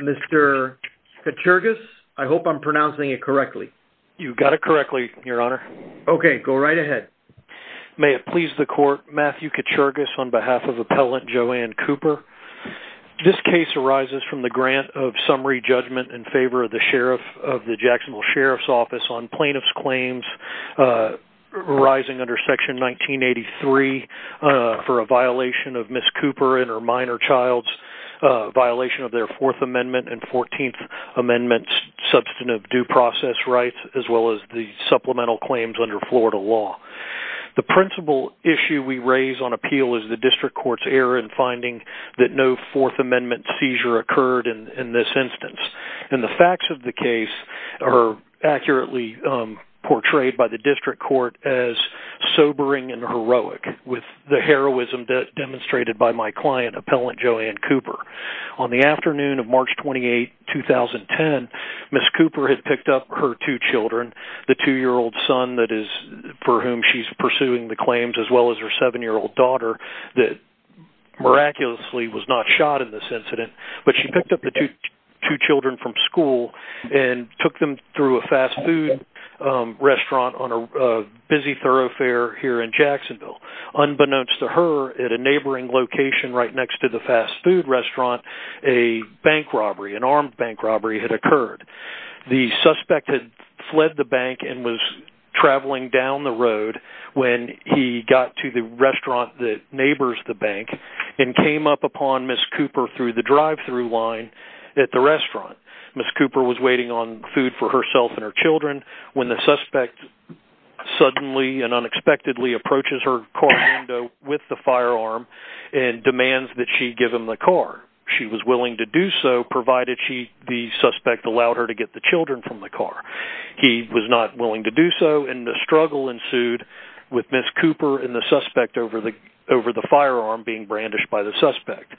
Mr. Kachurgas, I hope I'm pronouncing it correctly. You've got it correctly, your honor. Okay, go right ahead. May it please the court, Matthew Kachurgas on behalf of appellant Joann Cooper, this case arises from the grant of summary judgment in favor of the Jacksonville Sheriff's Office on plaintiff's claims arising under Section 1983 for a violation of Ms. Cooper and her minor child's violation of their Fourth Amendment and Fourteenth Amendment substantive due process rights as well as the supplemental claims under Florida law. The principal issue we raise on appeal is the district court's error in finding that no Fourth Amendment seizure occurred in this instance. And the facts of the case are accurately portrayed by the district court as sobering and heroic with the heroism demonstrated by my client, appellant Joann Cooper. On the afternoon of March 28, 2010, Ms. Cooper had picked up her two children, the two-year-old son for whom she's pursuing the claims as well as her seven-year-old daughter that miraculously was not shot in this incident. But she picked up the two children from school and took them through a fast food restaurant on a busy thoroughfare here in Jacksonville. Unbeknownst to her, at a neighboring location right next to the fast food restaurant, a bank robbery, an armed bank robbery had occurred. The suspect had fled the bank and was traveling down the road when he got to the restaurant that neighbors the bank and came up upon Ms. Cooper through the drive-thru line at the restaurant. Ms. Cooper was waiting on food for herself and her children when the suspect suddenly and unexpectedly approaches her car window with the firearm and demands that she give him the car. She was willing to do so provided the suspect allowed her to get the children from the car. He was not willing to do so and the struggle ensued with Ms. Cooper and the suspect over the firearm being brandished by the suspect.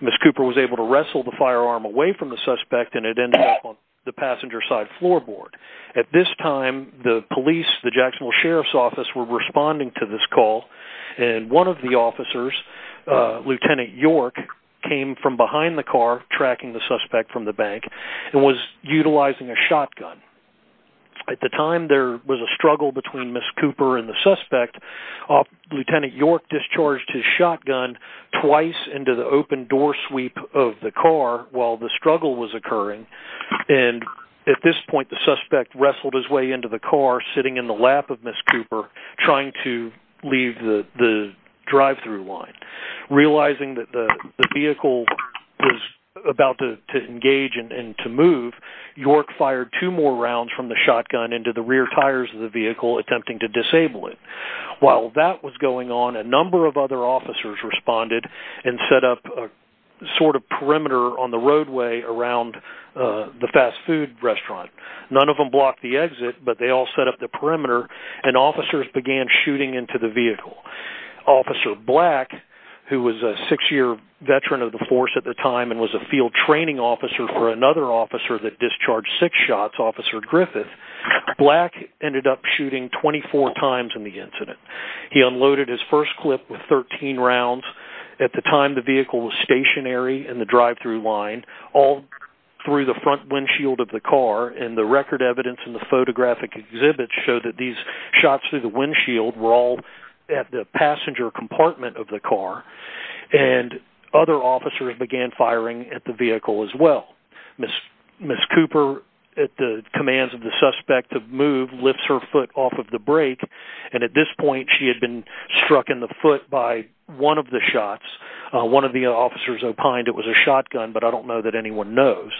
Ms. Cooper was able to wrestle the firearm away from the suspect and it ended up on the passenger side floorboard. At this time, the police, the Jacksonville Sheriff's Office, were responding to this call and one of the officers, Lieutenant York, came from behind the car tracking the suspect from the bank and was utilizing a shotgun. At the time, there was a struggle between Ms. Cooper and the suspect. Lieutenant York discharged his shotgun twice into the open door sweep of the car while the struggle was occurring. At this point, the suspect wrestled his way into the car sitting in the lap of Ms. Cooper trying to leave the drive-thru line. Realizing that the vehicle was about to engage and to move, York fired two more rounds from the shotgun into the rear tires of the vehicle attempting to disable it. While that was going on, a number of other officers responded and set up a sort of perimeter on the roadway around the fast food restaurant. None of them blocked the exit, but they all set up the perimeter and officers began shooting into the vehicle. Officer Black, who was a six-year veteran of the force at the time and was a field training officer for another officer that discharged six shots, Officer Griffith, Black ended up shooting 24 times in the incident. He unloaded his first clip with 13 rounds. At the time, the vehicle was stationary in the drive-thru line all through the front windshield of the car and the record evidence and the photographic exhibits show that these shots through the windshield were all at the passenger compartment of the car. Other officers began firing at the vehicle as well. Ms. Cooper, at the commands of the suspect of move, lifts her foot off of the brake and at this point she had been struck in the foot by one of the shots. One of the officers opined it was a shotgun, but I don't know that anyone knows.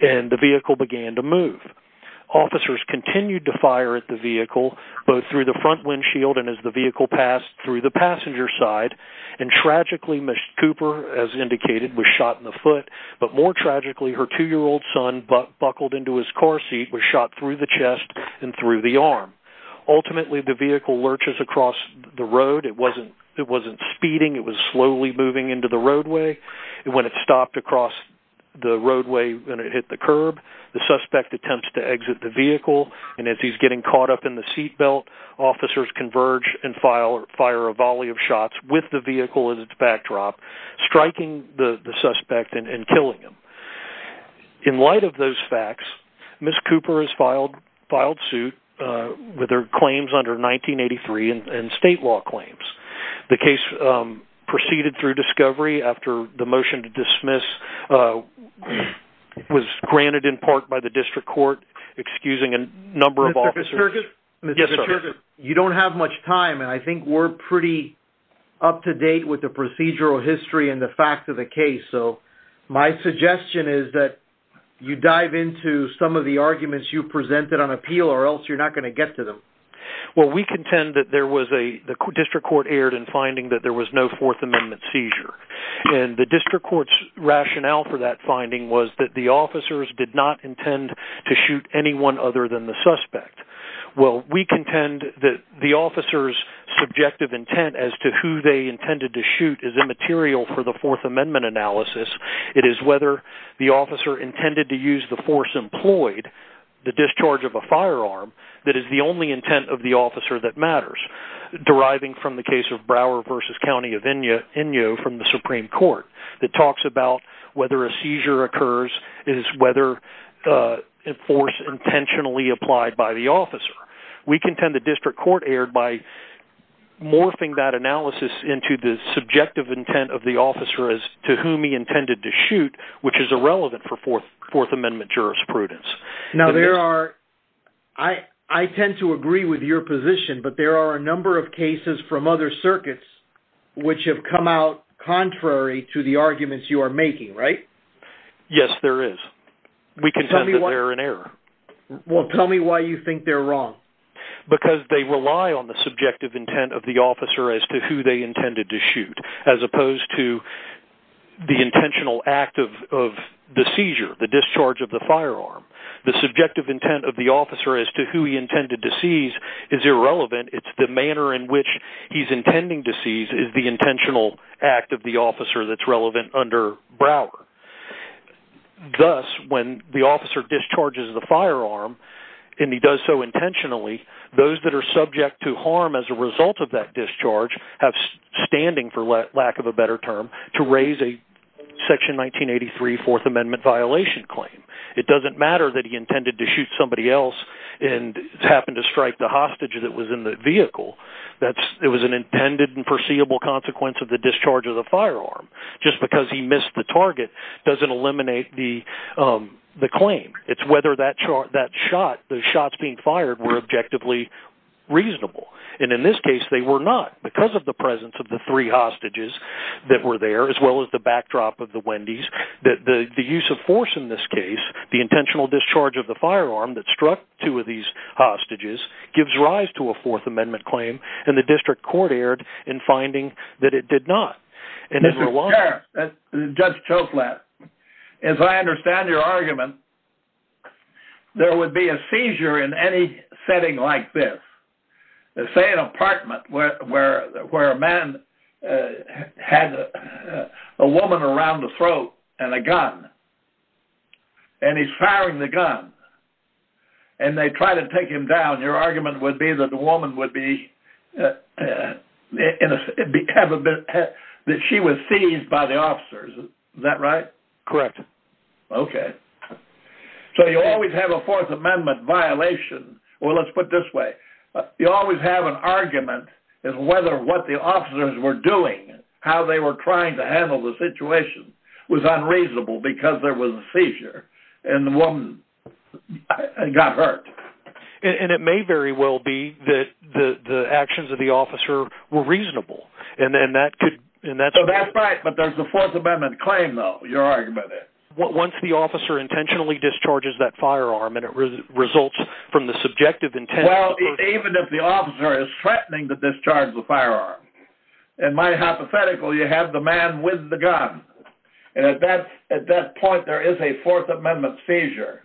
The vehicle began to move. Officers continued to fire at the vehicle, both through the front windshield and as the vehicle passed through the passenger side. Tragically, Ms. Cooper, as indicated, was shot in the foot, but more tragically, her two-year-old son, buckled into his car seat, was shot through the chest and through the arm. Ultimately, the vehicle lurches across the road. It wasn't speeding. It was slowly moving into the roadway. When it stopped across the roadway and it hit the curb, the suspect attempts to exit the vehicle, and as he's getting caught up in the seat belt, officers converge and fire a volley of shots with the vehicle as its backdrop, striking the suspect and killing him. In light of those facts, Ms. Cooper is filed suit with her claims under 1983 and state law claims. The case proceeded through discovery. After the motion to dismiss, it was granted in part by the district court, excusing a number of officers. Mr. Kierkegaard, you don't have much time, and I think we're pretty up-to-date with the procedural history and the fact of the case, so my suggestion is that you dive into some of the arguments you presented on appeal or else you're not going to get to them. Well, we contend that the district court erred in finding that there was no Fourth Amendment seizure, and the district court's rationale for that finding was that the officers did not intend to shoot anyone other than the suspect. Well, we contend that the officers' subjective intent as to who they intended to shoot is immaterial for the Fourth Amendment analysis. It is whether the officer intended to use the force employed, the discharge of a firearm, that is the only intent of the officer that matters, deriving from the case of Brower v. County of Inyo from the Supreme Court that talks about whether a seizure occurs is whether a force intentionally applied by the officer. We contend the district court erred by morphing that analysis into the subjective intent of the officer as to whom he intended to shoot, which is irrelevant for Fourth Amendment jurisprudence. Now, there are... I tend to agree with your position, but there are a number of cases from other circuits which have come out contrary to the arguments you are making, right? Yes, there is. We contend that they're in error. Well, tell me why you think they're wrong. Because they rely on the subjective intent of the officer as to who they intended to shoot as opposed to the intentional act of the seizure, the discharge of the firearm. The subjective intent of the officer as to who he intended to seize is irrelevant. It's the manner in which he's intending to seize is the intentional act of the officer that's relevant under Brower. Thus, when the officer discharges the firearm, and he does so intentionally, those that are subject to harm as a result of that discharge have standing, for lack of a better term, to raise a Section 1983 Fourth Amendment violation claim. It doesn't matter that he intended to shoot somebody else and happened to strike the hostage that was in the vehicle. It was an intended and foreseeable consequence of the discharge of the firearm. Just because he missed the target doesn't eliminate the claim. It's whether that shot, the shots being fired, were objectively reasonable. And in this case, they were not because of the presence of the three hostages that were there as well as the backdrop of the Wendy's. The use of force in this case, the intentional discharge of the firearm that struck two of these hostages, gives rise to a Fourth Amendment claim. And the district court erred in finding that it did not. Mr. Chair, Judge Choklat, as I understand your argument, there would be a seizure in any setting like this. Say an apartment where a man had a woman around the throat and a gun. And he's firing the gun. And they try to take him down. Your argument would be that the woman would be, that she was seized by the officers. Is that right? Correct. Okay. So you always have a Fourth Amendment violation. Well, let's put it this way. You always have an argument in whether what the officers were doing, how they were trying to handle the situation, was unreasonable because there was a seizure and the woman got hurt. And it may very well be that the actions of the officer were reasonable. And then that could – That's right, but there's a Fourth Amendment claim, though, your argument is. Once the officer intentionally discharges that firearm and it results from the subjective intent – Well, even if the officer is threatening to discharge the firearm, in my hypothetical you have the man with the gun. And at that point there is a Fourth Amendment seizure.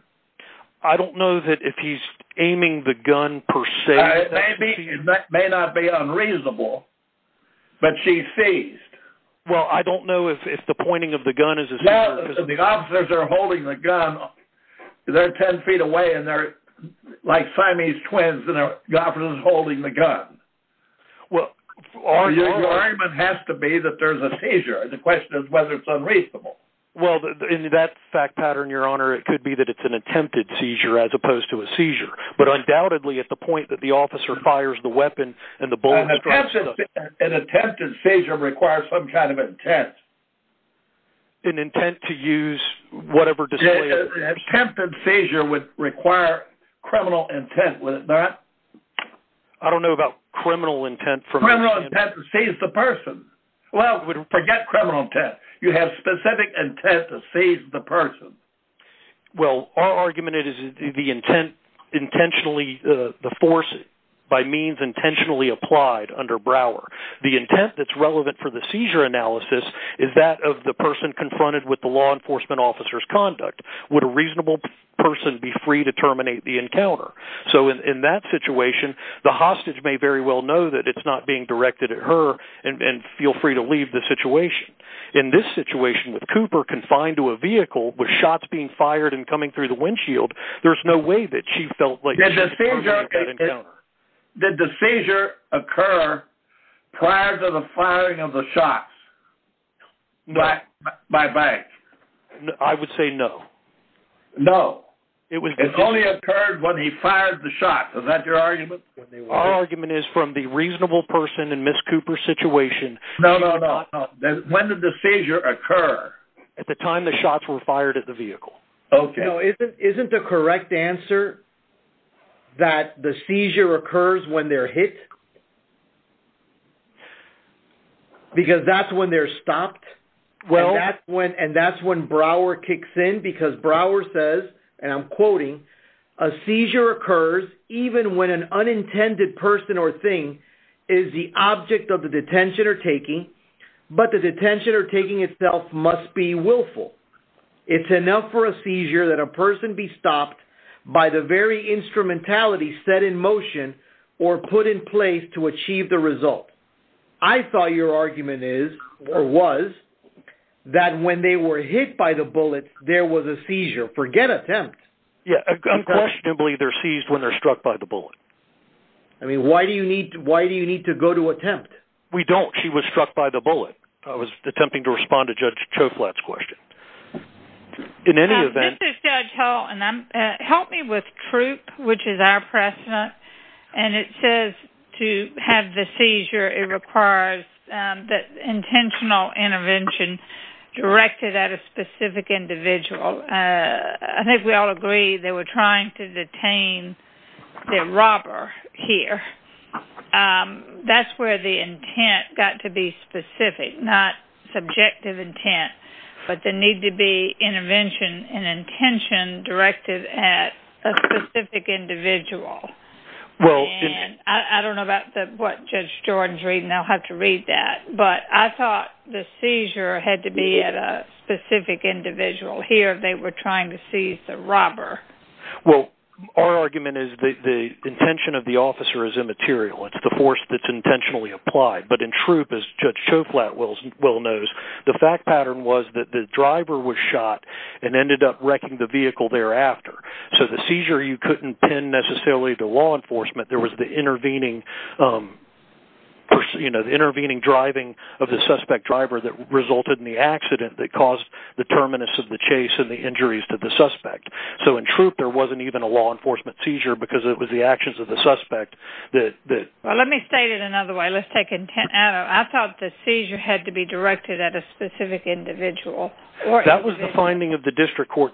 I don't know that if he's aiming the gun per se. It may not be unreasonable, but she's seized. Well, I don't know if the pointing of the gun is a seizure. Well, if the officers are holding the gun, they're 10 feet away and they're like Siamese twins and the officer's holding the gun. Well, your argument has to be that there's a seizure. The question is whether it's unreasonable. Well, in that fact pattern, Your Honor, it could be that it's an attempted seizure as opposed to a seizure, but undoubtedly at the point that the officer fires the weapon and the bullet strikes – An attempted seizure requires some kind of intent. An intent to use whatever – An attempted seizure would require criminal intent, would it not? I don't know about criminal intent. Criminal intent to seize the person. Well, forget criminal intent. You have specific intent to seize the person. Well, our argument is the intent intentionally – The intent that's relevant for the seizure analysis is that of the person confronted with the law enforcement officer's conduct. Would a reasonable person be free to terminate the encounter? So in that situation, the hostage may very well know that it's not being directed at her and feel free to leave the situation. In this situation with Cooper confined to a vehicle with shots being fired and coming through the windshield, there's no way that she felt like she could terminate that encounter. Did the seizure occur prior to the firing of the shots by Banks? I would say no. No. It only occurred when he fired the shots. Is that your argument? Our argument is from the reasonable person in Ms. Cooper's situation. No, no, no. When did the seizure occur? At the time the shots were fired at the vehicle. Isn't the correct answer that the seizure occurs when they're hit? Because that's when they're stopped. And that's when Brower kicks in because Brower says, and I'm quoting, a seizure occurs even when an unintended person or thing is the object of the detention or taking, but the detention or taking itself must be willful. It's enough for a seizure that a person be stopped by the very instrumentality set in motion or put in place to achieve the result. I thought your argument is or was that when they were hit by the bullet, there was a seizure. Forget attempt. Yeah, unquestionably they're seized when they're struck by the bullet. I mean, why do you need to go to attempt? We don't. She was struck by the bullet. I was attempting to respond to Judge Choflat's question. In any event. This is Judge Hull, and help me with troop, which is our precedent, and it says to have the seizure it requires that intentional intervention directed at a specific individual. I think we all agree they were trying to detain the robber here. That's where the intent got to be specific, not subjective intent, but the need to be intervention and intention directed at a specific individual. I don't know about what Judge Jordan's reading. I'll have to read that. But I thought the seizure had to be at a specific individual. Here they were trying to seize the robber. Well, our argument is the intention of the officer is immaterial. It's the force that's intentionally applied. But in troop, as Judge Choflat well knows, the fact pattern was that the driver was shot and ended up wrecking the vehicle thereafter. So the seizure you couldn't pin necessarily to law enforcement. There was the intervening driving of the suspect driver that resulted in the accident that caused the terminus of the chase and the injuries to the suspect. So in troop there wasn't even a law enforcement seizure because it was the actions of the suspect. Let me state it another way. I thought the seizure had to be directed at a specific individual. That was the finding of the district court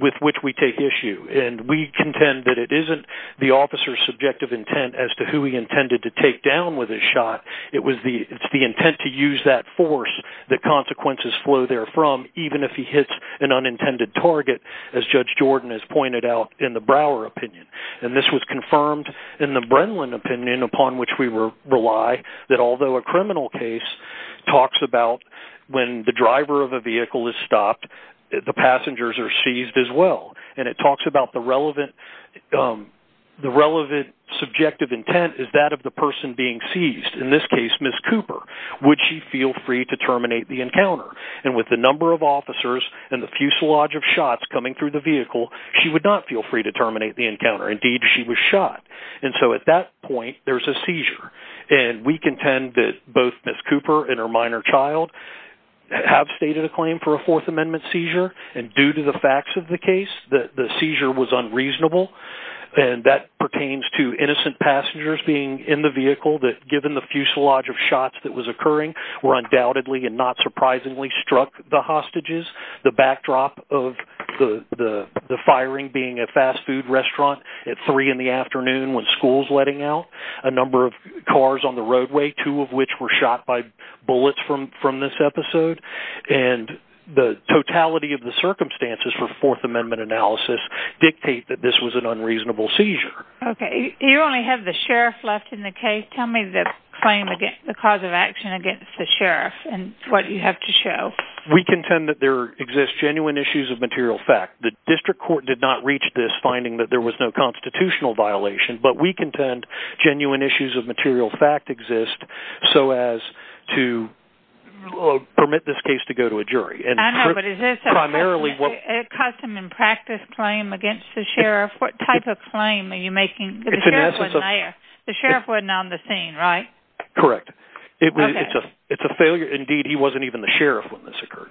with which we take issue. And we contend that it isn't the officer's subjective intent as to who he intended to take down with his shot. It's the intent to use that force that consequences flow therefrom, even if he hits an unintended target, as Judge Jordan has pointed out in the Brower opinion. And this was confirmed in the Brenlin opinion, upon which we rely, that although a criminal case talks about when the driver of a vehicle is stopped, the passengers are seized as well. And it talks about the relevant subjective intent is that of the person being seized. In this case, Ms. Cooper. Would she feel free to terminate the encounter? And with the number of officers and the fuselage of shots coming through the vehicle, she would not feel free to terminate the encounter. Indeed, she was shot. And so at that point, there's a seizure. And we contend that both Ms. Cooper and her minor child have stated a claim for a Fourth Amendment seizure. And due to the facts of the case, the seizure was unreasonable. And that pertains to innocent passengers being in the vehicle that given the fuselage of shots that was occurring, were undoubtedly and not surprisingly struck the hostages. The backdrop of the firing being a fast food restaurant at three in the afternoon when school's letting out. A number of cars on the roadway, two of which were shot by bullets from this episode. And the totality of the circumstances for Fourth Amendment analysis dictate that this was an unreasonable seizure. Okay. You only have the sheriff left in the case. Tell me the cause of action against the sheriff and what you have to show. We contend that there exist genuine issues of material fact. The district court did not reach this finding that there was no constitutional violation. But we contend genuine issues of material fact exist so as to permit this case to go to a jury. I know, but is this a custom and practice claim against the sheriff? What type of claim are you making? The sheriff wasn't on the scene, right? Correct. It's a failure. Indeed, he wasn't even the sheriff when this occurred.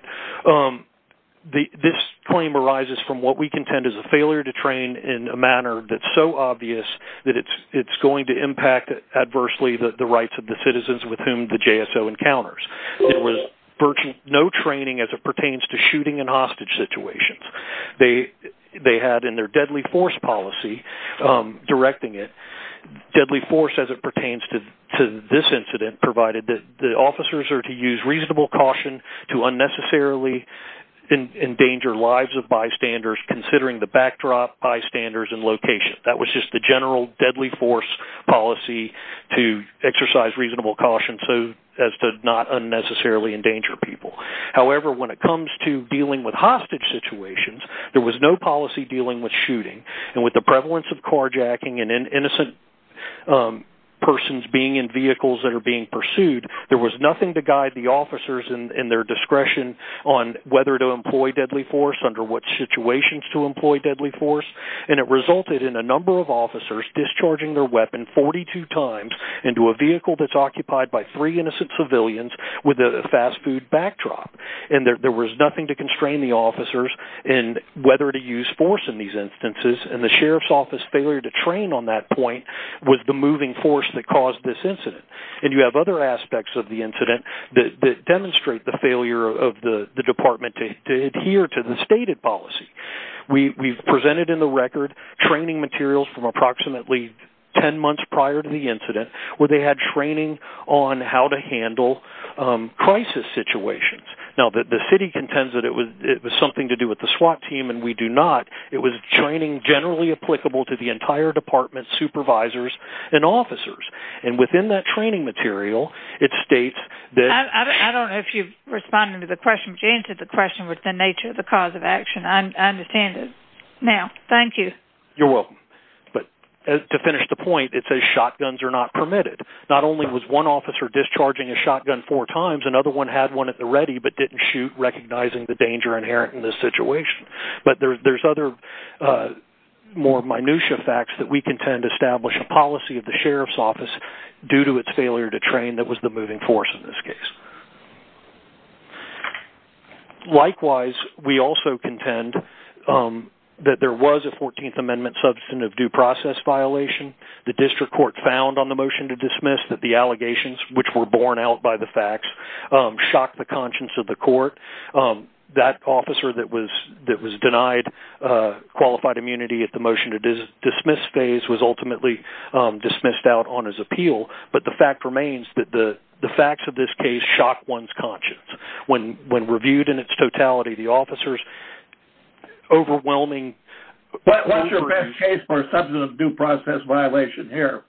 This claim arises from what we contend is a failure to train in a manner that's so obvious that it's going to impact adversely the rights of the citizens with whom the JSO encounters. There was virtually no training as it pertains to shooting and hostage situations. They had in their deadly force policy, directing it, deadly force as it pertains to this incident provided that the officers are to use reasonable caution to unnecessarily endanger lives of bystanders considering the backdrop, bystanders, and location. That was just the general deadly force policy to exercise reasonable caution so as to not unnecessarily endanger people. However, when it comes to dealing with hostage situations, there was no policy dealing with shooting. With the prevalence of carjacking and innocent persons being in vehicles that are being pursued, there was nothing to guide the officers in their discretion on whether to employ deadly force, under what situations to employ deadly force. It resulted in a number of officers discharging their weapon 42 times into a vehicle that's occupied by three innocent civilians with a fast food backdrop. And there was nothing to constrain the officers in whether to use force in these instances and the Sheriff's Office failure to train on that point was the moving force that caused this incident. And you have other aspects of the incident that demonstrate the failure of the Department to adhere to the stated policy. We've presented in the record training materials from approximately 10 months prior to the incident where they had training on how to handle crisis situations. Now, the city contends that it was something to do with the SWAT team and we do not. It was training generally applicable to the entire department, supervisors, and officers. And within that training material, it states that... I don't know if you've responded to the question, with the nature of the cause of action. I understand it. Now, thank you. You're welcome. But to finish the point, it says shotguns are not permitted. Not only was one officer discharging a shotgun four times, another one had one at the ready but didn't shoot, recognizing the danger inherent in this situation. But there's other more minutiae facts that we contend establish a policy of the Sheriff's Office due to its failure to train that was the moving force in this case. Likewise, we also contend that there was a 14th Amendment substance of due process violation. The district court found on the motion to dismiss that the allegations, which were borne out by the facts, shocked the conscience of the court. That officer that was denied qualified immunity at the motion to dismiss phase was ultimately dismissed out on his appeal. But the fact remains that the facts of this case shock one's conscience. When reviewed in its totality, the officers' overwhelming... What's your best case for a substance of due process violation here?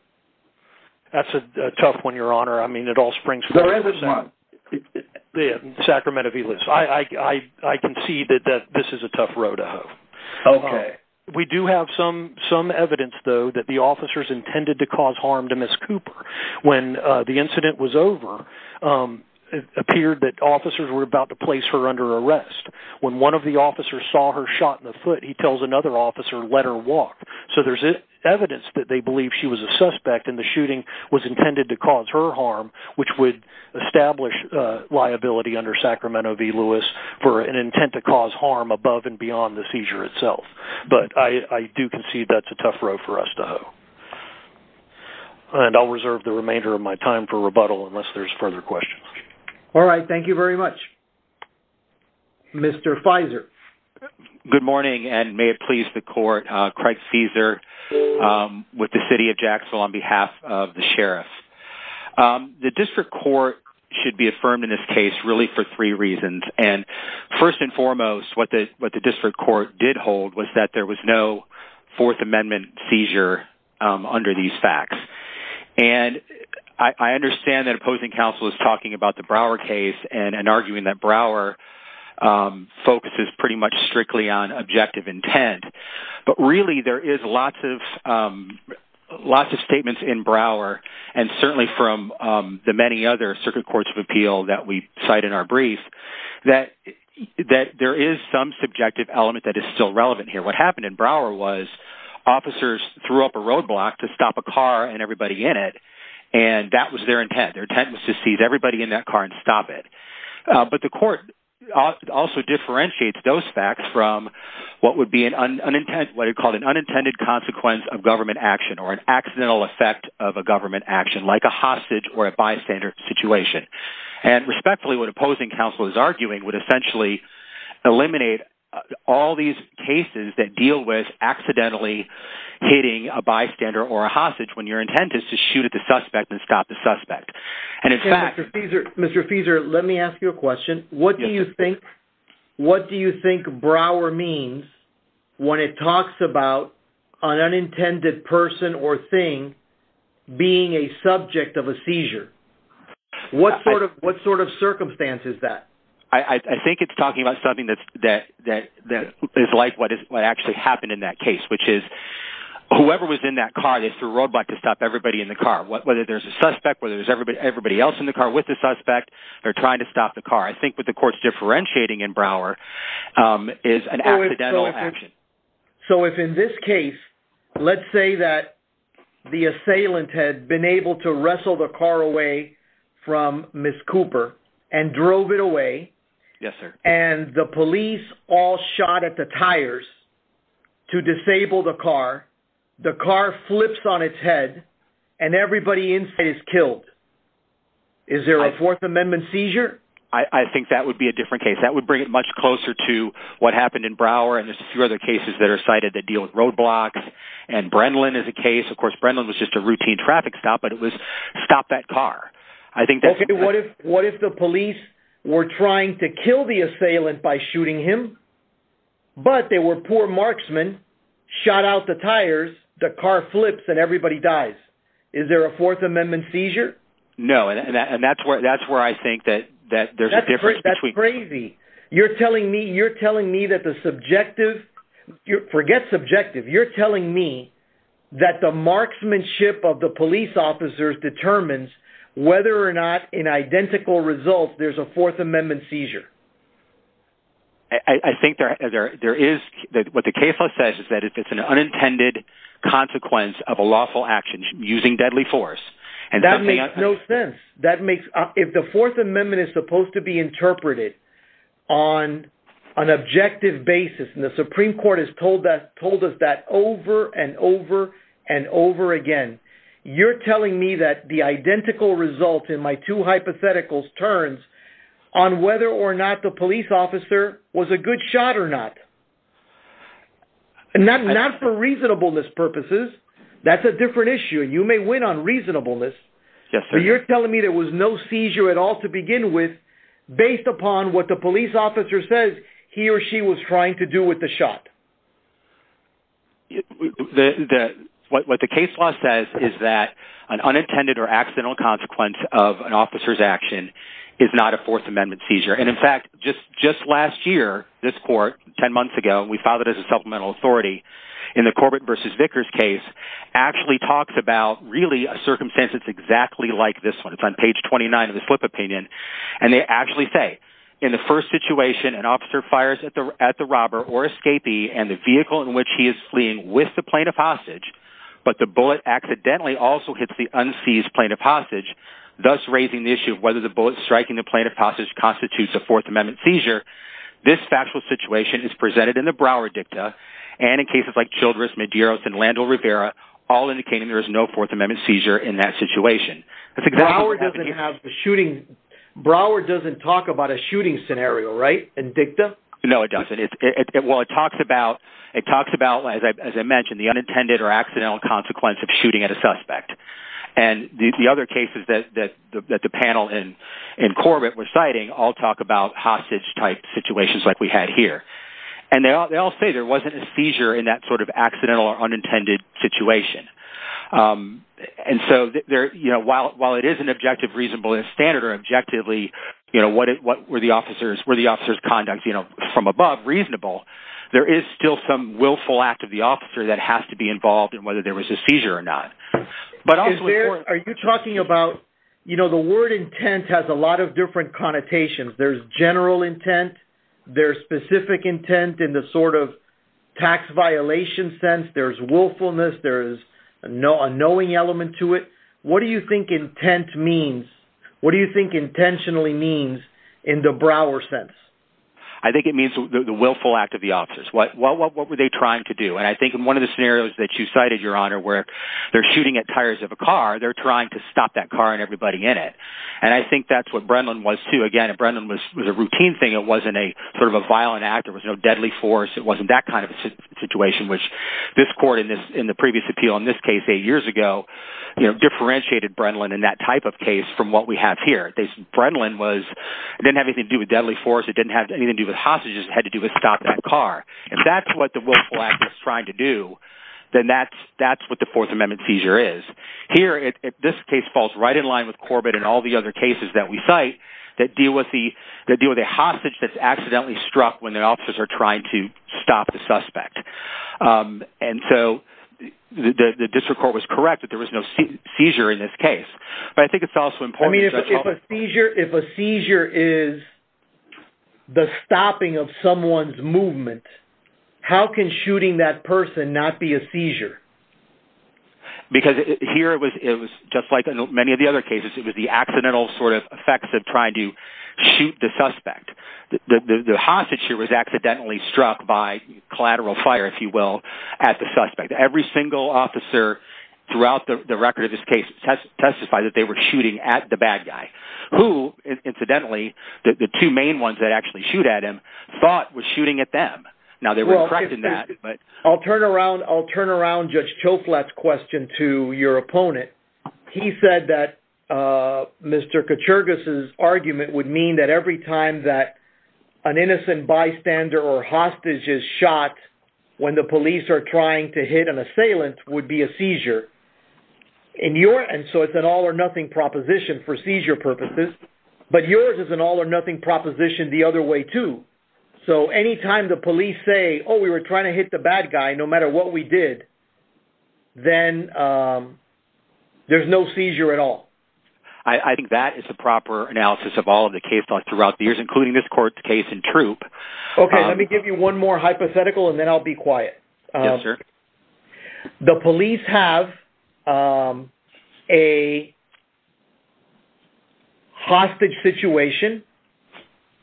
That's a tough one, Your Honor. I mean, it all springs from... Where is it, then? The Sacramento v. Lewis. I concede that this is a tough road to hoe. Okay. We do have some evidence, though, that the officers intended to cause harm to Ms. Cooper. When the incident was over, it appeared that officers were about to place her under arrest. When one of the officers saw her shot in the foot, he tells another officer, let her walk. So there's evidence that they believe she was a suspect, and the shooting was intended to cause her harm, which would establish liability under Sacramento v. Lewis for an intent to cause harm above and beyond the seizure itself. But I do concede that's a tough road for us to hoe. And I'll reserve the remainder of my time for rebuttal unless there's further questions. All right. Thank you very much. Mr. Fizer. Good morning, and may it please the Court, Craig Cesar with the City of Jacksonville on behalf of the Sheriff. The District Court should be affirmed in this case really for three reasons, and first and foremost, what the District Court did hold was that there was no Fourth Amendment seizure under these facts. And I understand that opposing counsel is talking about the Brouwer case and arguing that Brouwer focuses pretty much strictly on objective intent, but really there is lots of statements in Brouwer, and certainly from the many other Circuit Courts of Appeal that we cite in our brief, that there is some subjective element that is still relevant here. What happened in Brouwer was officers threw up a roadblock to stop a car and everybody in it, and that was their intent. Their intent was to seize everybody in that car and stop it. But the Court also differentiates those facts from what would be what it called an unintended consequence of government action or an accidental effect of a government action, like a hostage or a bystander situation. And respectfully, what opposing counsel is arguing would essentially eliminate all these cases that deal with accidentally hitting a bystander or a hostage when your intent is to shoot at the suspect and stop the suspect. And in fact... Mr. Fieser, let me ask you a question. What do you think Brouwer means when it talks about an unintended person or thing being a subject of a seizure? What sort of circumstance is that? I think it's talking about something that is like what actually happened in that case, which is whoever was in that car, they threw a roadblock to stop everybody in the car. Whether there's a suspect, whether there's everybody else in the car with the suspect, they're trying to stop the car. I think what the Court's differentiating in Brouwer is an accidental action. So if in this case, let's say that the assailant had been able to wrestle the car away from Ms. Cooper and drove it away, and the police all shot at the tires to disable the car, the car flips on its head, and everybody inside is killed, is there a Fourth Amendment seizure? I think that would be a different case. That would bring it much closer to what happened in Brouwer, and there's a few other cases that are cited that deal with roadblocks. And Brenlin is a case. Of course, Brenlin was just a routine traffic stop, but it was stop that car. What if the police were trying to kill the assailant by shooting him, but they were poor marksmen, shot out the tires, the car flips, and everybody dies? Is there a Fourth Amendment seizure? No, and that's where I think that there's a difference between— That's crazy. You're telling me that the subjective—forget subjective. You're telling me that the marksmanship of the police officers determines whether or not in identical results there's a Fourth Amendment seizure. I think there is. What the case law says is that if it's an unintended consequence of a lawful action, That makes no sense. If the Fourth Amendment is supposed to be interpreted on an objective basis, and the Supreme Court has told us that over and over and over again, you're telling me that the identical result in my two hypotheticals turns on whether or not the police officer was a good shot or not. Not for reasonableness purposes. That's a different issue. You may win on reasonableness, but you're telling me there was no seizure at all to begin with based upon what the police officer says he or she was trying to do with the shot. What the case law says is that an unintended or accidental consequence of an officer's action is not a Fourth Amendment seizure. In fact, just last year, this court, 10 months ago, we filed it as a supplemental authority in the Corbett v. Vickers case, actually talked about a circumstance that's exactly like this one. It's on page 29 of the Flip Opinion. They actually say, In the first situation, an officer fires at the robber or escapee and the vehicle in which he is fleeing with the plane of hostage, but the bullet accidentally also hits the unseized plane of hostage, thus raising the issue of whether the bullet striking the plane of hostage constitutes a Fourth Amendment seizure. This factual situation is presented in the Brouwer Dicta, and in cases like Childress, Medeiros, and Landel-Rivera, all indicating there is no Fourth Amendment seizure in that situation. Brouwer doesn't talk about a shooting scenario, right, in Dicta? No, it doesn't. It talks about, as I mentioned, the unintended or accidental consequence of shooting at a suspect. And the other cases that the panel in Corbett was citing all talk about hostage-type situations like we had here. And they all say there wasn't a seizure in that sort of accidental or unintended situation. And so while it is an objective, reasonable, and standard, or objectively, what were the officers' conducts from above reasonable, there is still some willful act of the officer that has to be involved in whether there was a seizure or not. Are you talking about, you know, the word intent has a lot of different connotations. There's general intent. There's specific intent in the sort of tax violation sense. There's willfulness. There's a knowing element to it. What do you think intent means? What do you think intentionally means in the Brouwer sense? I think it means the willful act of the officers. What were they trying to do? And I think in one of the scenarios that you cited, Your Honor, where they're shooting at tires of a car, they're trying to stop that car and everybody in it. And I think that's what Brennan was too. Again, Brennan was a routine thing. It wasn't a sort of a violent act. There was no deadly force. It wasn't that kind of situation, which this court in the previous appeal, in this case eight years ago, differentiated Brennan in that type of case from what we have here. Brennan didn't have anything to do with deadly force. It didn't have anything to do with hostages. It had to do with stop that car. If that's what the willful act was trying to do, then that's what the Fourth Amendment seizure is. Here, this case falls right in line with Corbett and all the other cases that we cite that deal with the hostage that's accidentally struck when the officers are trying to stop the suspect. And so the district court was correct that there was no seizure in this case. I mean, if a seizure is the stopping of someone's movement, how can shooting that person not be a seizure? Because here it was just like many of the other cases. It was the accidental sort of effects of trying to shoot the suspect. The hostage here was accidentally struck by collateral fire, if you will, at the suspect. Every single officer throughout the record of this case testified that they were shooting at the bad guy, who, incidentally, the two main ones that actually shoot at him, thought was shooting at them. Now, they were correct in that, but... I'll turn around Judge Choflat's question to your opponent. He said that Mr. Kuchergis's argument would mean that every time that an innocent bystander or hostage is shot, when the police are trying to hit an assailant, would be a seizure. And so it's an all-or-nothing proposition for seizure purposes. But yours is an all-or-nothing proposition the other way, too. So any time the police say, oh, we were trying to hit the bad guy, no matter what we did, then there's no seizure at all. I think that is the proper analysis of all of the case law throughout the years, including this court's case in Troop. Okay, let me give you one more hypothetical, and then I'll be quiet. Yes, sir. The police have a hostage situation.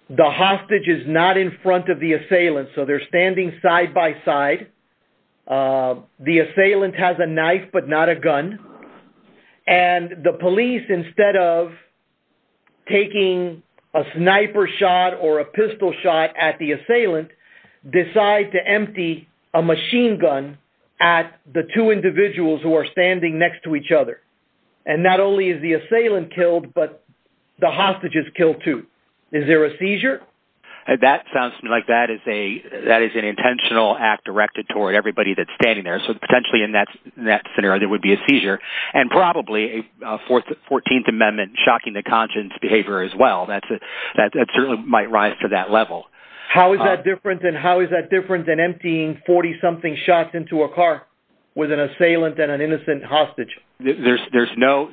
The hostage is not in front of the assailant, so they're standing side by side. The assailant has a knife but not a gun. And the police, instead of taking a sniper shot or a pistol shot at the assailant, decide to empty a machine gun at the two individuals who are standing next to each other. And not only is the assailant killed, but the hostage is killed, too. Is there a seizure? That sounds to me like that is an intentional act directed toward everybody that's standing there. So potentially in that scenario there would be a seizure, and probably a 14th Amendment shocking the conscience behavior as well. That certainly might rise to that level. How is that different than emptying 40-something shots into a car with an assailant and an innocent hostage? There's no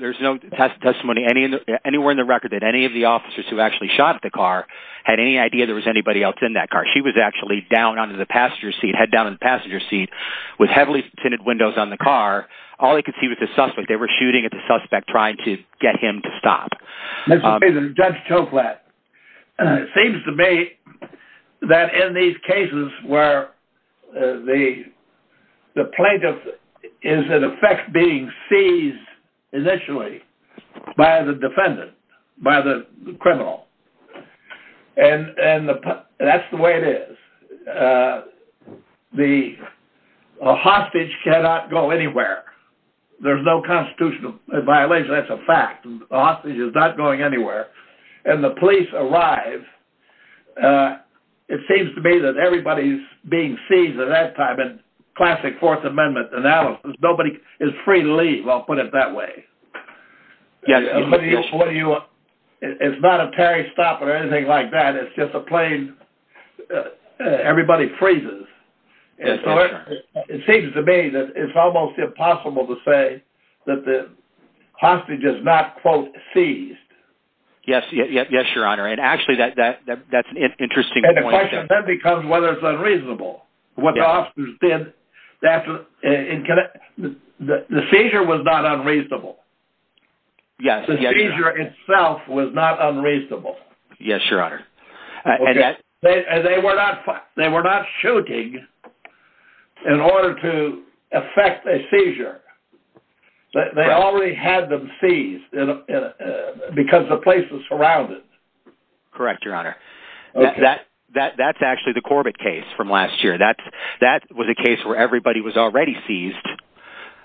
testimony anywhere in the record that any of the officers who actually shot at the car had any idea there was anybody else in that car. She was actually head down in the passenger seat with heavily tinted windows on the car. All they could see was the suspect. They were shooting at the suspect trying to get him to stop. Judge Toklat, it seems to me that in these cases where the plaintiff is in effect being seized initially by the defendant, by the criminal, and that's the way it is, a hostage cannot go anywhere. There's no constitutional violation. That's a fact. A hostage is not going anywhere. And the police arrive. It seems to me that everybody's being seized at that time in classic Fourth Amendment analysis. Nobody is free to leave. I'll put it that way. It's not a parry stop or anything like that. It's just a plain everybody freezes. It seems to me that it's almost impossible to say that the hostage is not, quote, seized. Yes, Your Honor. And actually, that's an interesting point. And the question then becomes whether it's unreasonable. What the officers did, the seizure was not unreasonable. Yes, Your Honor. The seizure itself was not unreasonable. Yes, Your Honor. And they were not shooting in order to effect a seizure. They already had them seized because the place was surrounded. Correct, Your Honor. That's actually the Corbett case from last year. That was a case where everybody was already seized.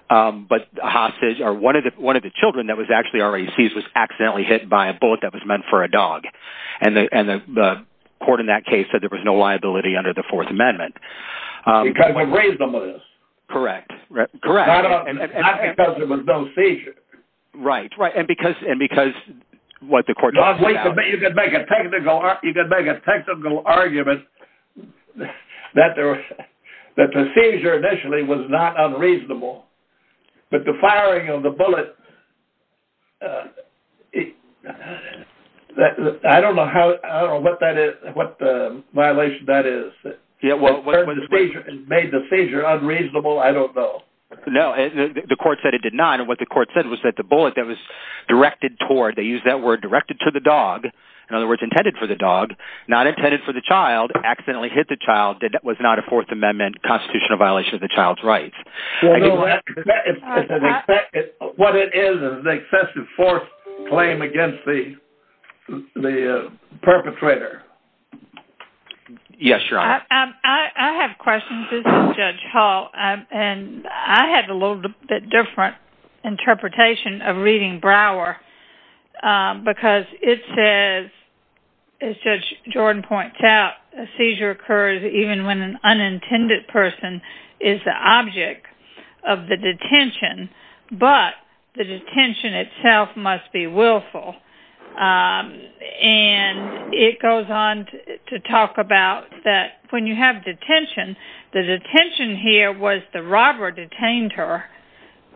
But one of the children that was actually already seized was accidentally hit by a bullet that was meant for a dog. And the court in that case said there was no liability under the Fourth Amendment. Because we raised them with us. Correct. Not because there was no seizure. Right. That's right. And because what the court said. You could make a technical argument that the seizure initially was not unreasonable. But the firing of the bullet, I don't know what violation that is. Whether it made the seizure unreasonable, I don't know. No, the court said it did not. And what the court said was that the bullet that was directed toward. They used that word directed to the dog. In other words, intended for the dog. Not intended for the child. Accidentally hit the child. That was not a Fourth Amendment constitutional violation of the child's rights. What it is is an excessive force claim against the perpetrator. Yes, Your Honor. I have questions. This is Judge Hall. I have a little bit different interpretation of reading Brower. Because it says, as Judge Jordan points out, a seizure occurs even when an unintended person is the object of the detention. But the detention itself must be willful. And it goes on to talk about that when you have detention, the detention here was the robber detained her.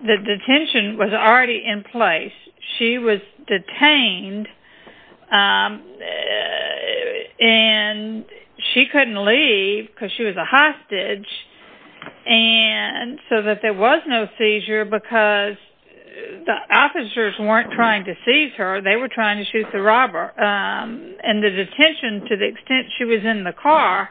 The detention was already in place. She was detained and she couldn't leave because she was a hostage. And so that there was no seizure because the officers weren't trying to seize her. They were trying to shoot the robber. And the detention, to the extent she was in the car,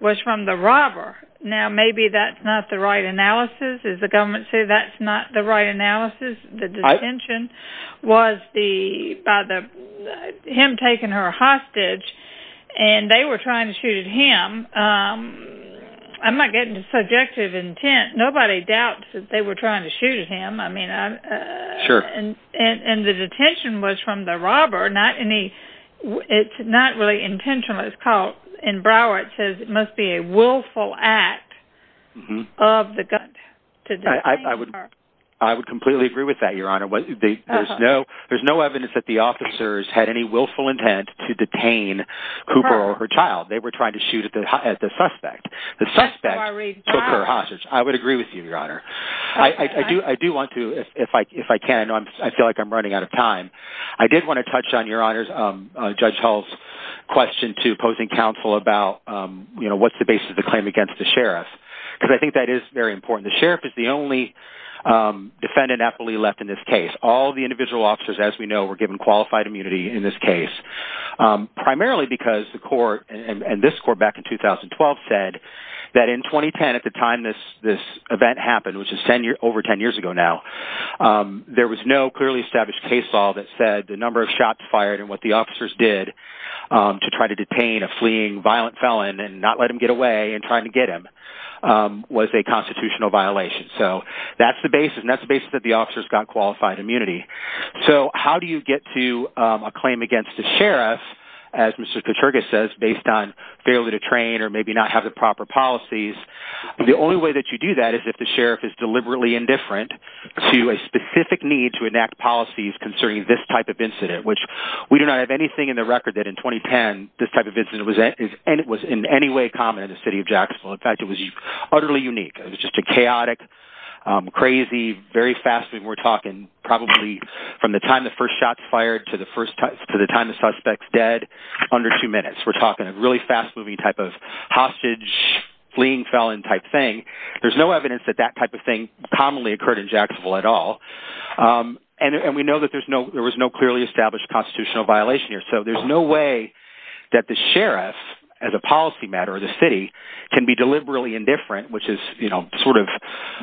was from the robber. Now, maybe that's not the right analysis. Does the government say that's not the right analysis? The detention was him taking her hostage, and they were trying to shoot him. I'm not getting subjective intent. Nobody doubts that they were trying to shoot him. Sure. And the detention was from the robber. It's not really intentional. In Brower it says it must be a willful act of the gunman to detain her. I would completely agree with that, Your Honor. There's no evidence that the officers had any willful intent to detain Cooper or her child. They were trying to shoot at the suspect. The suspect took her hostage. I would agree with you, Your Honor. I do want to, if I can. I feel like I'm running out of time. I did want to touch on, Your Honor, Judge Hull's question to opposing counsel about what's the basis of the claim against the sheriff. Because I think that is very important. The sheriff is the only defendant aptly left in this case. All the individual officers, as we know, were given qualified immunity in this case, primarily because the court and this court back in 2012 said that in 2010, at the time this event happened, which is over 10 years ago now, there was no clearly established case law that said the number of shots fired and what the officers did to try to detain a fleeing violent felon and not let him get away and try to get him was a constitutional violation. So that's the basis, and that's the basis that the officers got qualified immunity. So how do you get to a claim against the sheriff, as Mr. Katergis says, based on failure to train or maybe not have the proper policies? The only way that you do that is if the sheriff is deliberately indifferent to a specific need to enact policies concerning this type of incident, which we do not have anything in the record that in 2010 this type of incident was in any way common in the city of Jacksonville. In fact, it was utterly unique. It was just a chaotic, crazy, very fast, and we're talking probably from the time the first shot's fired to the time the suspect's dead, under two minutes. We're talking a really fast-moving type of hostage-fleeing felon type thing. There's no evidence that that type of thing commonly occurred in Jacksonville at all. And we know that there was no clearly established constitutional violation here, so there's no way that the sheriff, as a policy matter of the city, can be deliberately indifferent, which is sort of...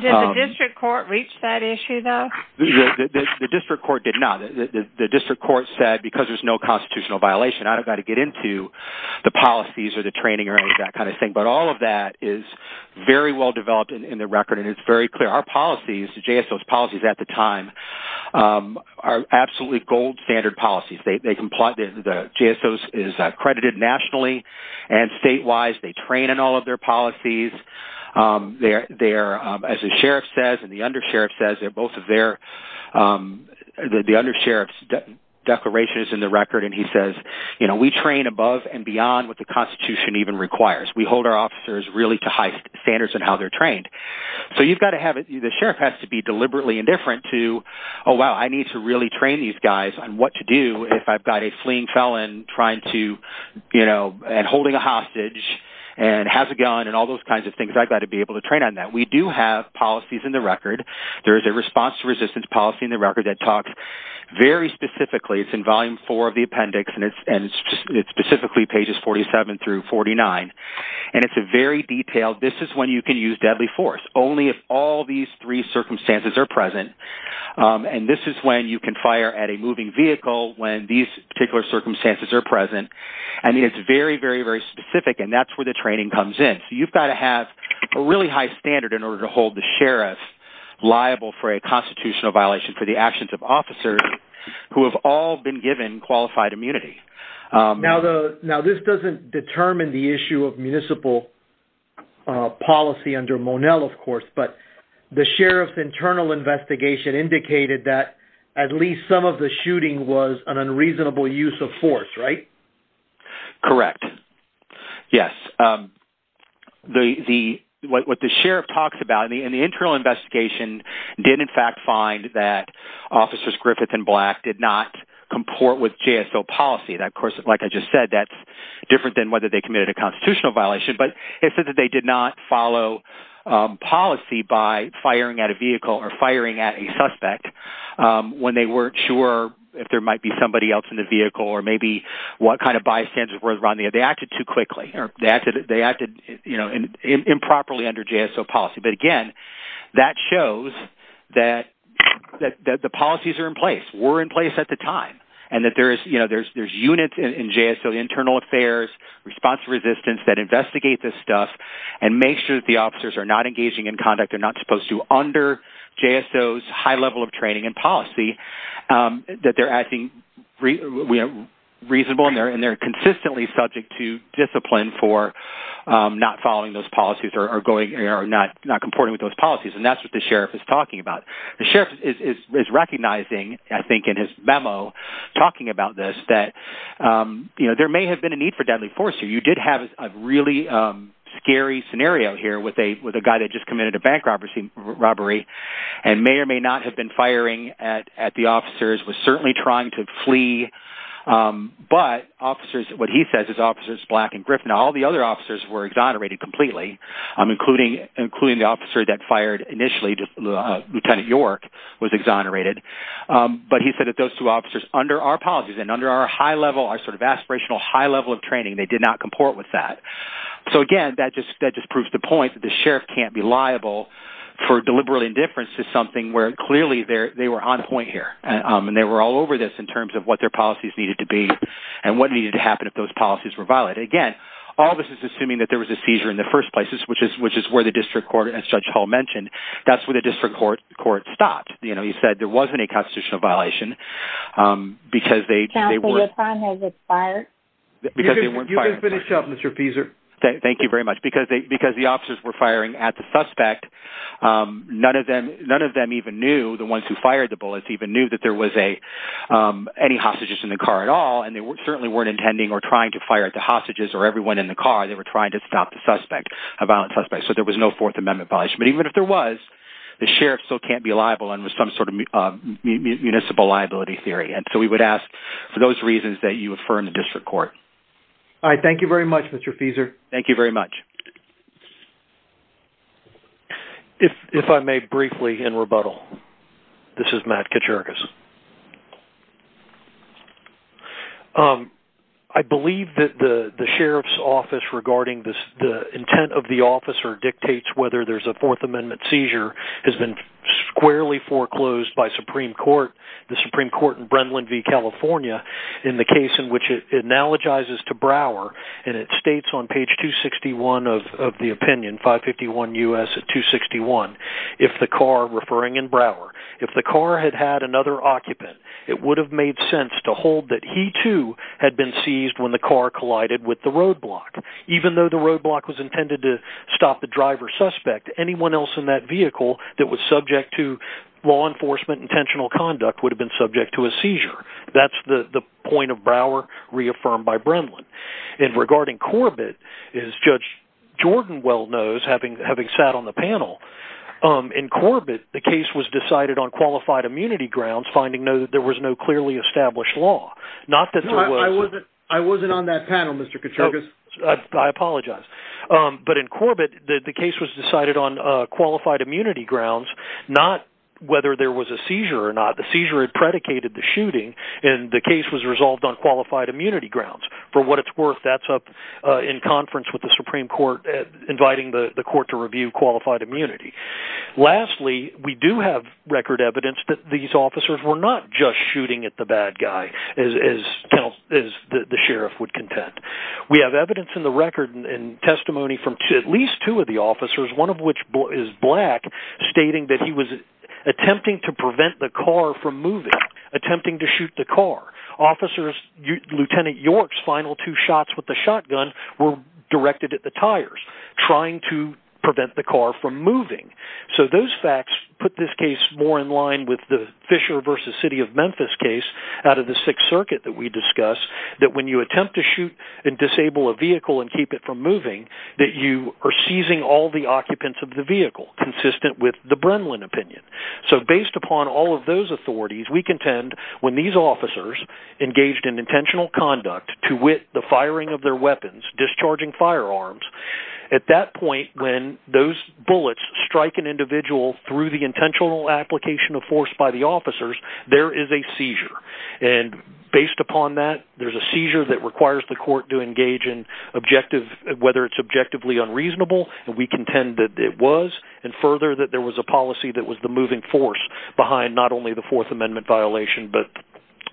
Did the district court reach that issue, though? The district court did not. The district court said because there's no constitutional violation, I don't got to get into the policies or the training or any of that kind of thing. But all of that is very well developed in the record, and it's very clear. Our policies, the JSO's policies at the time, are absolutely gold-standard policies. They comply. The JSO's is credited nationally and statewide. They train in all of their policies. As the sheriff says and the undersheriff says, they're both of their... The undersheriff's declaration is in the record, and he says, you know, we train above and beyond what the Constitution even requires. We hold our officers really to high standards in how they're trained. So you've got to have it... The sheriff has to be deliberately indifferent to, oh, wow, I need to really train these guys on what to do if I've got a fleeing felon trying to, you know, and holding a hostage and has a gun and all those kinds of things. I've got to be able to train on that. We do have policies in the record. There is a response to resistance policy in the record that talks very specifically. It's in volume four of the appendix, and it's specifically pages 47 through 49, and it's very detailed. This is when you can use deadly force, only if all these three circumstances are present, and this is when you can fire at a moving vehicle when these particular circumstances are present. And it's very, very, very specific, and that's where the training comes in. So you've got to have a really high standard in order to hold the sheriff liable for a constitutional violation for the actions of officers who have all been given qualified immunity. Now, this doesn't determine the issue of municipal policy under Monell, of course, but the sheriff's internal investigation indicated that at least some of the shooting was an unreasonable use of force, right? Correct. Yes. What the sheriff talks about in the internal investigation did, in fact, find that officers Griffith and Black did not comport with JSO policy. Of course, like I just said, that's different than whether they committed a constitutional violation, but it said that they did not follow policy by firing at a vehicle or firing at a suspect when they weren't sure if there might be somebody else in the vehicle or maybe what kind of bystanders were around there. They acted too quickly or they acted improperly under JSO policy. But, again, that shows that the policies are in place, were in place at the time, and that there's units in JSO internal affairs, response resistance that investigate this stuff and make sure that the officers are not engaging in conduct they're not supposed to under JSO's high level of training and policy, that they're acting reasonable and they're consistently subject to discipline for not following those policies or not comporting with those policies, and that's what the sheriff is talking about. The sheriff is recognizing, I think in his memo, talking about this, that there may have been a need for deadly force here. You did have a really scary scenario here with a guy that just committed a bank robbery and may or may not have been firing at the officers, was certainly trying to flee, but what he says is officers Black and Griffin, all the other officers were exonerated completely, including the officer that fired initially, Lieutenant York, was exonerated. But he said that those two officers, under our policies and under our high level, our sort of aspirational high level of training, they did not comport with that. So again, that just proves the point that the sheriff can't be liable for deliberate indifference to something where clearly they were on point here and they were all over this in terms of what their policies needed to be and what needed to happen if those policies were violated. Again, all this is assuming that there was a seizure in the first place, which is where the district court, as Judge Hall mentioned, that's where the district court stopped. You know, he said there wasn't a constitutional violation because they weren't fired. You can finish up, Mr. Peser. Thank you very much. Because the officers were firing at the suspect, none of them even knew, the ones who fired the bullets even knew that there was any hostages in the car at all, and they certainly weren't intending or trying to fire at the hostages or everyone in the car. They were trying to stop the suspect, a violent suspect. So there was no Fourth Amendment violation. But even if there was, the sheriff still can't be liable under some sort of municipal liability theory. And so we would ask for those reasons that you affirm the district court. All right. Thank you very much, Mr. Peser. Thank you very much. If I may briefly, in rebuttal, this is Matt Kaczorokas. I believe that the sheriff's office regarding the intent of the officer dictates whether there's a Fourth Amendment seizure has been squarely foreclosed by Supreme Court. The Supreme Court in Brenlin v. California, in the case in which it analogizes to Brower, and it states on page 261 of the opinion, 551 U.S. 261, if the car, referring in Brower, if the car had had another occupant, it would have made sense to hold that he, too, had been seized when the car collided with the roadblock. Even though the roadblock was intended to stop the driver suspect, anyone else in that vehicle that was subject to law enforcement intentional conduct would have been subject to a seizure. That's the point of Brower reaffirmed by Brenlin. And regarding Corbett, as Judge Jordan well knows, having sat on the panel, in Corbett the case was decided on qualified immunity grounds, finding that there was no clearly established law, not that there was. No, I wasn't on that panel, Mr. Kaczorokas. I apologize. But in Corbett the case was decided on qualified immunity grounds, not whether there was a seizure or not. The seizure had predicated the shooting, and the case was resolved on qualified immunity grounds. For what it's worth, that's up in conference with the Supreme Court, inviting the court to review qualified immunity. Lastly, we do have record evidence that these officers were not just shooting at the bad guy, as the sheriff would contend. We have evidence in the record and testimony from at least two of the officers, one of which is black, stating that he was attempting to prevent the car from moving, attempting to shoot the car. Lieutenant York's final two shots with the shotgun were directed at the tires, trying to prevent the car from moving. So those facts put this case more in line with the Fisher v. City of Memphis case out of the Sixth Circuit that we discussed, that when you attempt to shoot and disable a vehicle and keep it from moving, that you are seizing all the occupants of the vehicle, consistent with the Brenlin opinion. So based upon all of those authorities, we contend when these officers engaged in intentional conduct, to wit, the firing of their weapons, discharging firearms, at that point when those bullets strike an individual through the intentional application of force by the officers, there is a seizure. And based upon that, there's a seizure that requires the court to engage in objective, whether it's objectively unreasonable, and we contend that it was, and further that there was a policy that was the moving force behind not only the Fourth Amendment violation but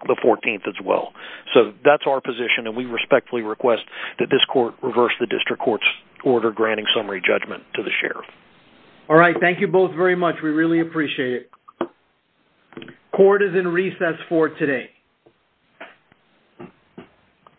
the 14th as well. So that's our position, and we respectfully request that this court reverse the district court's order granting summary judgment to the sheriff. All right. Thank you both very much. We really appreciate it. Court is in recess for today.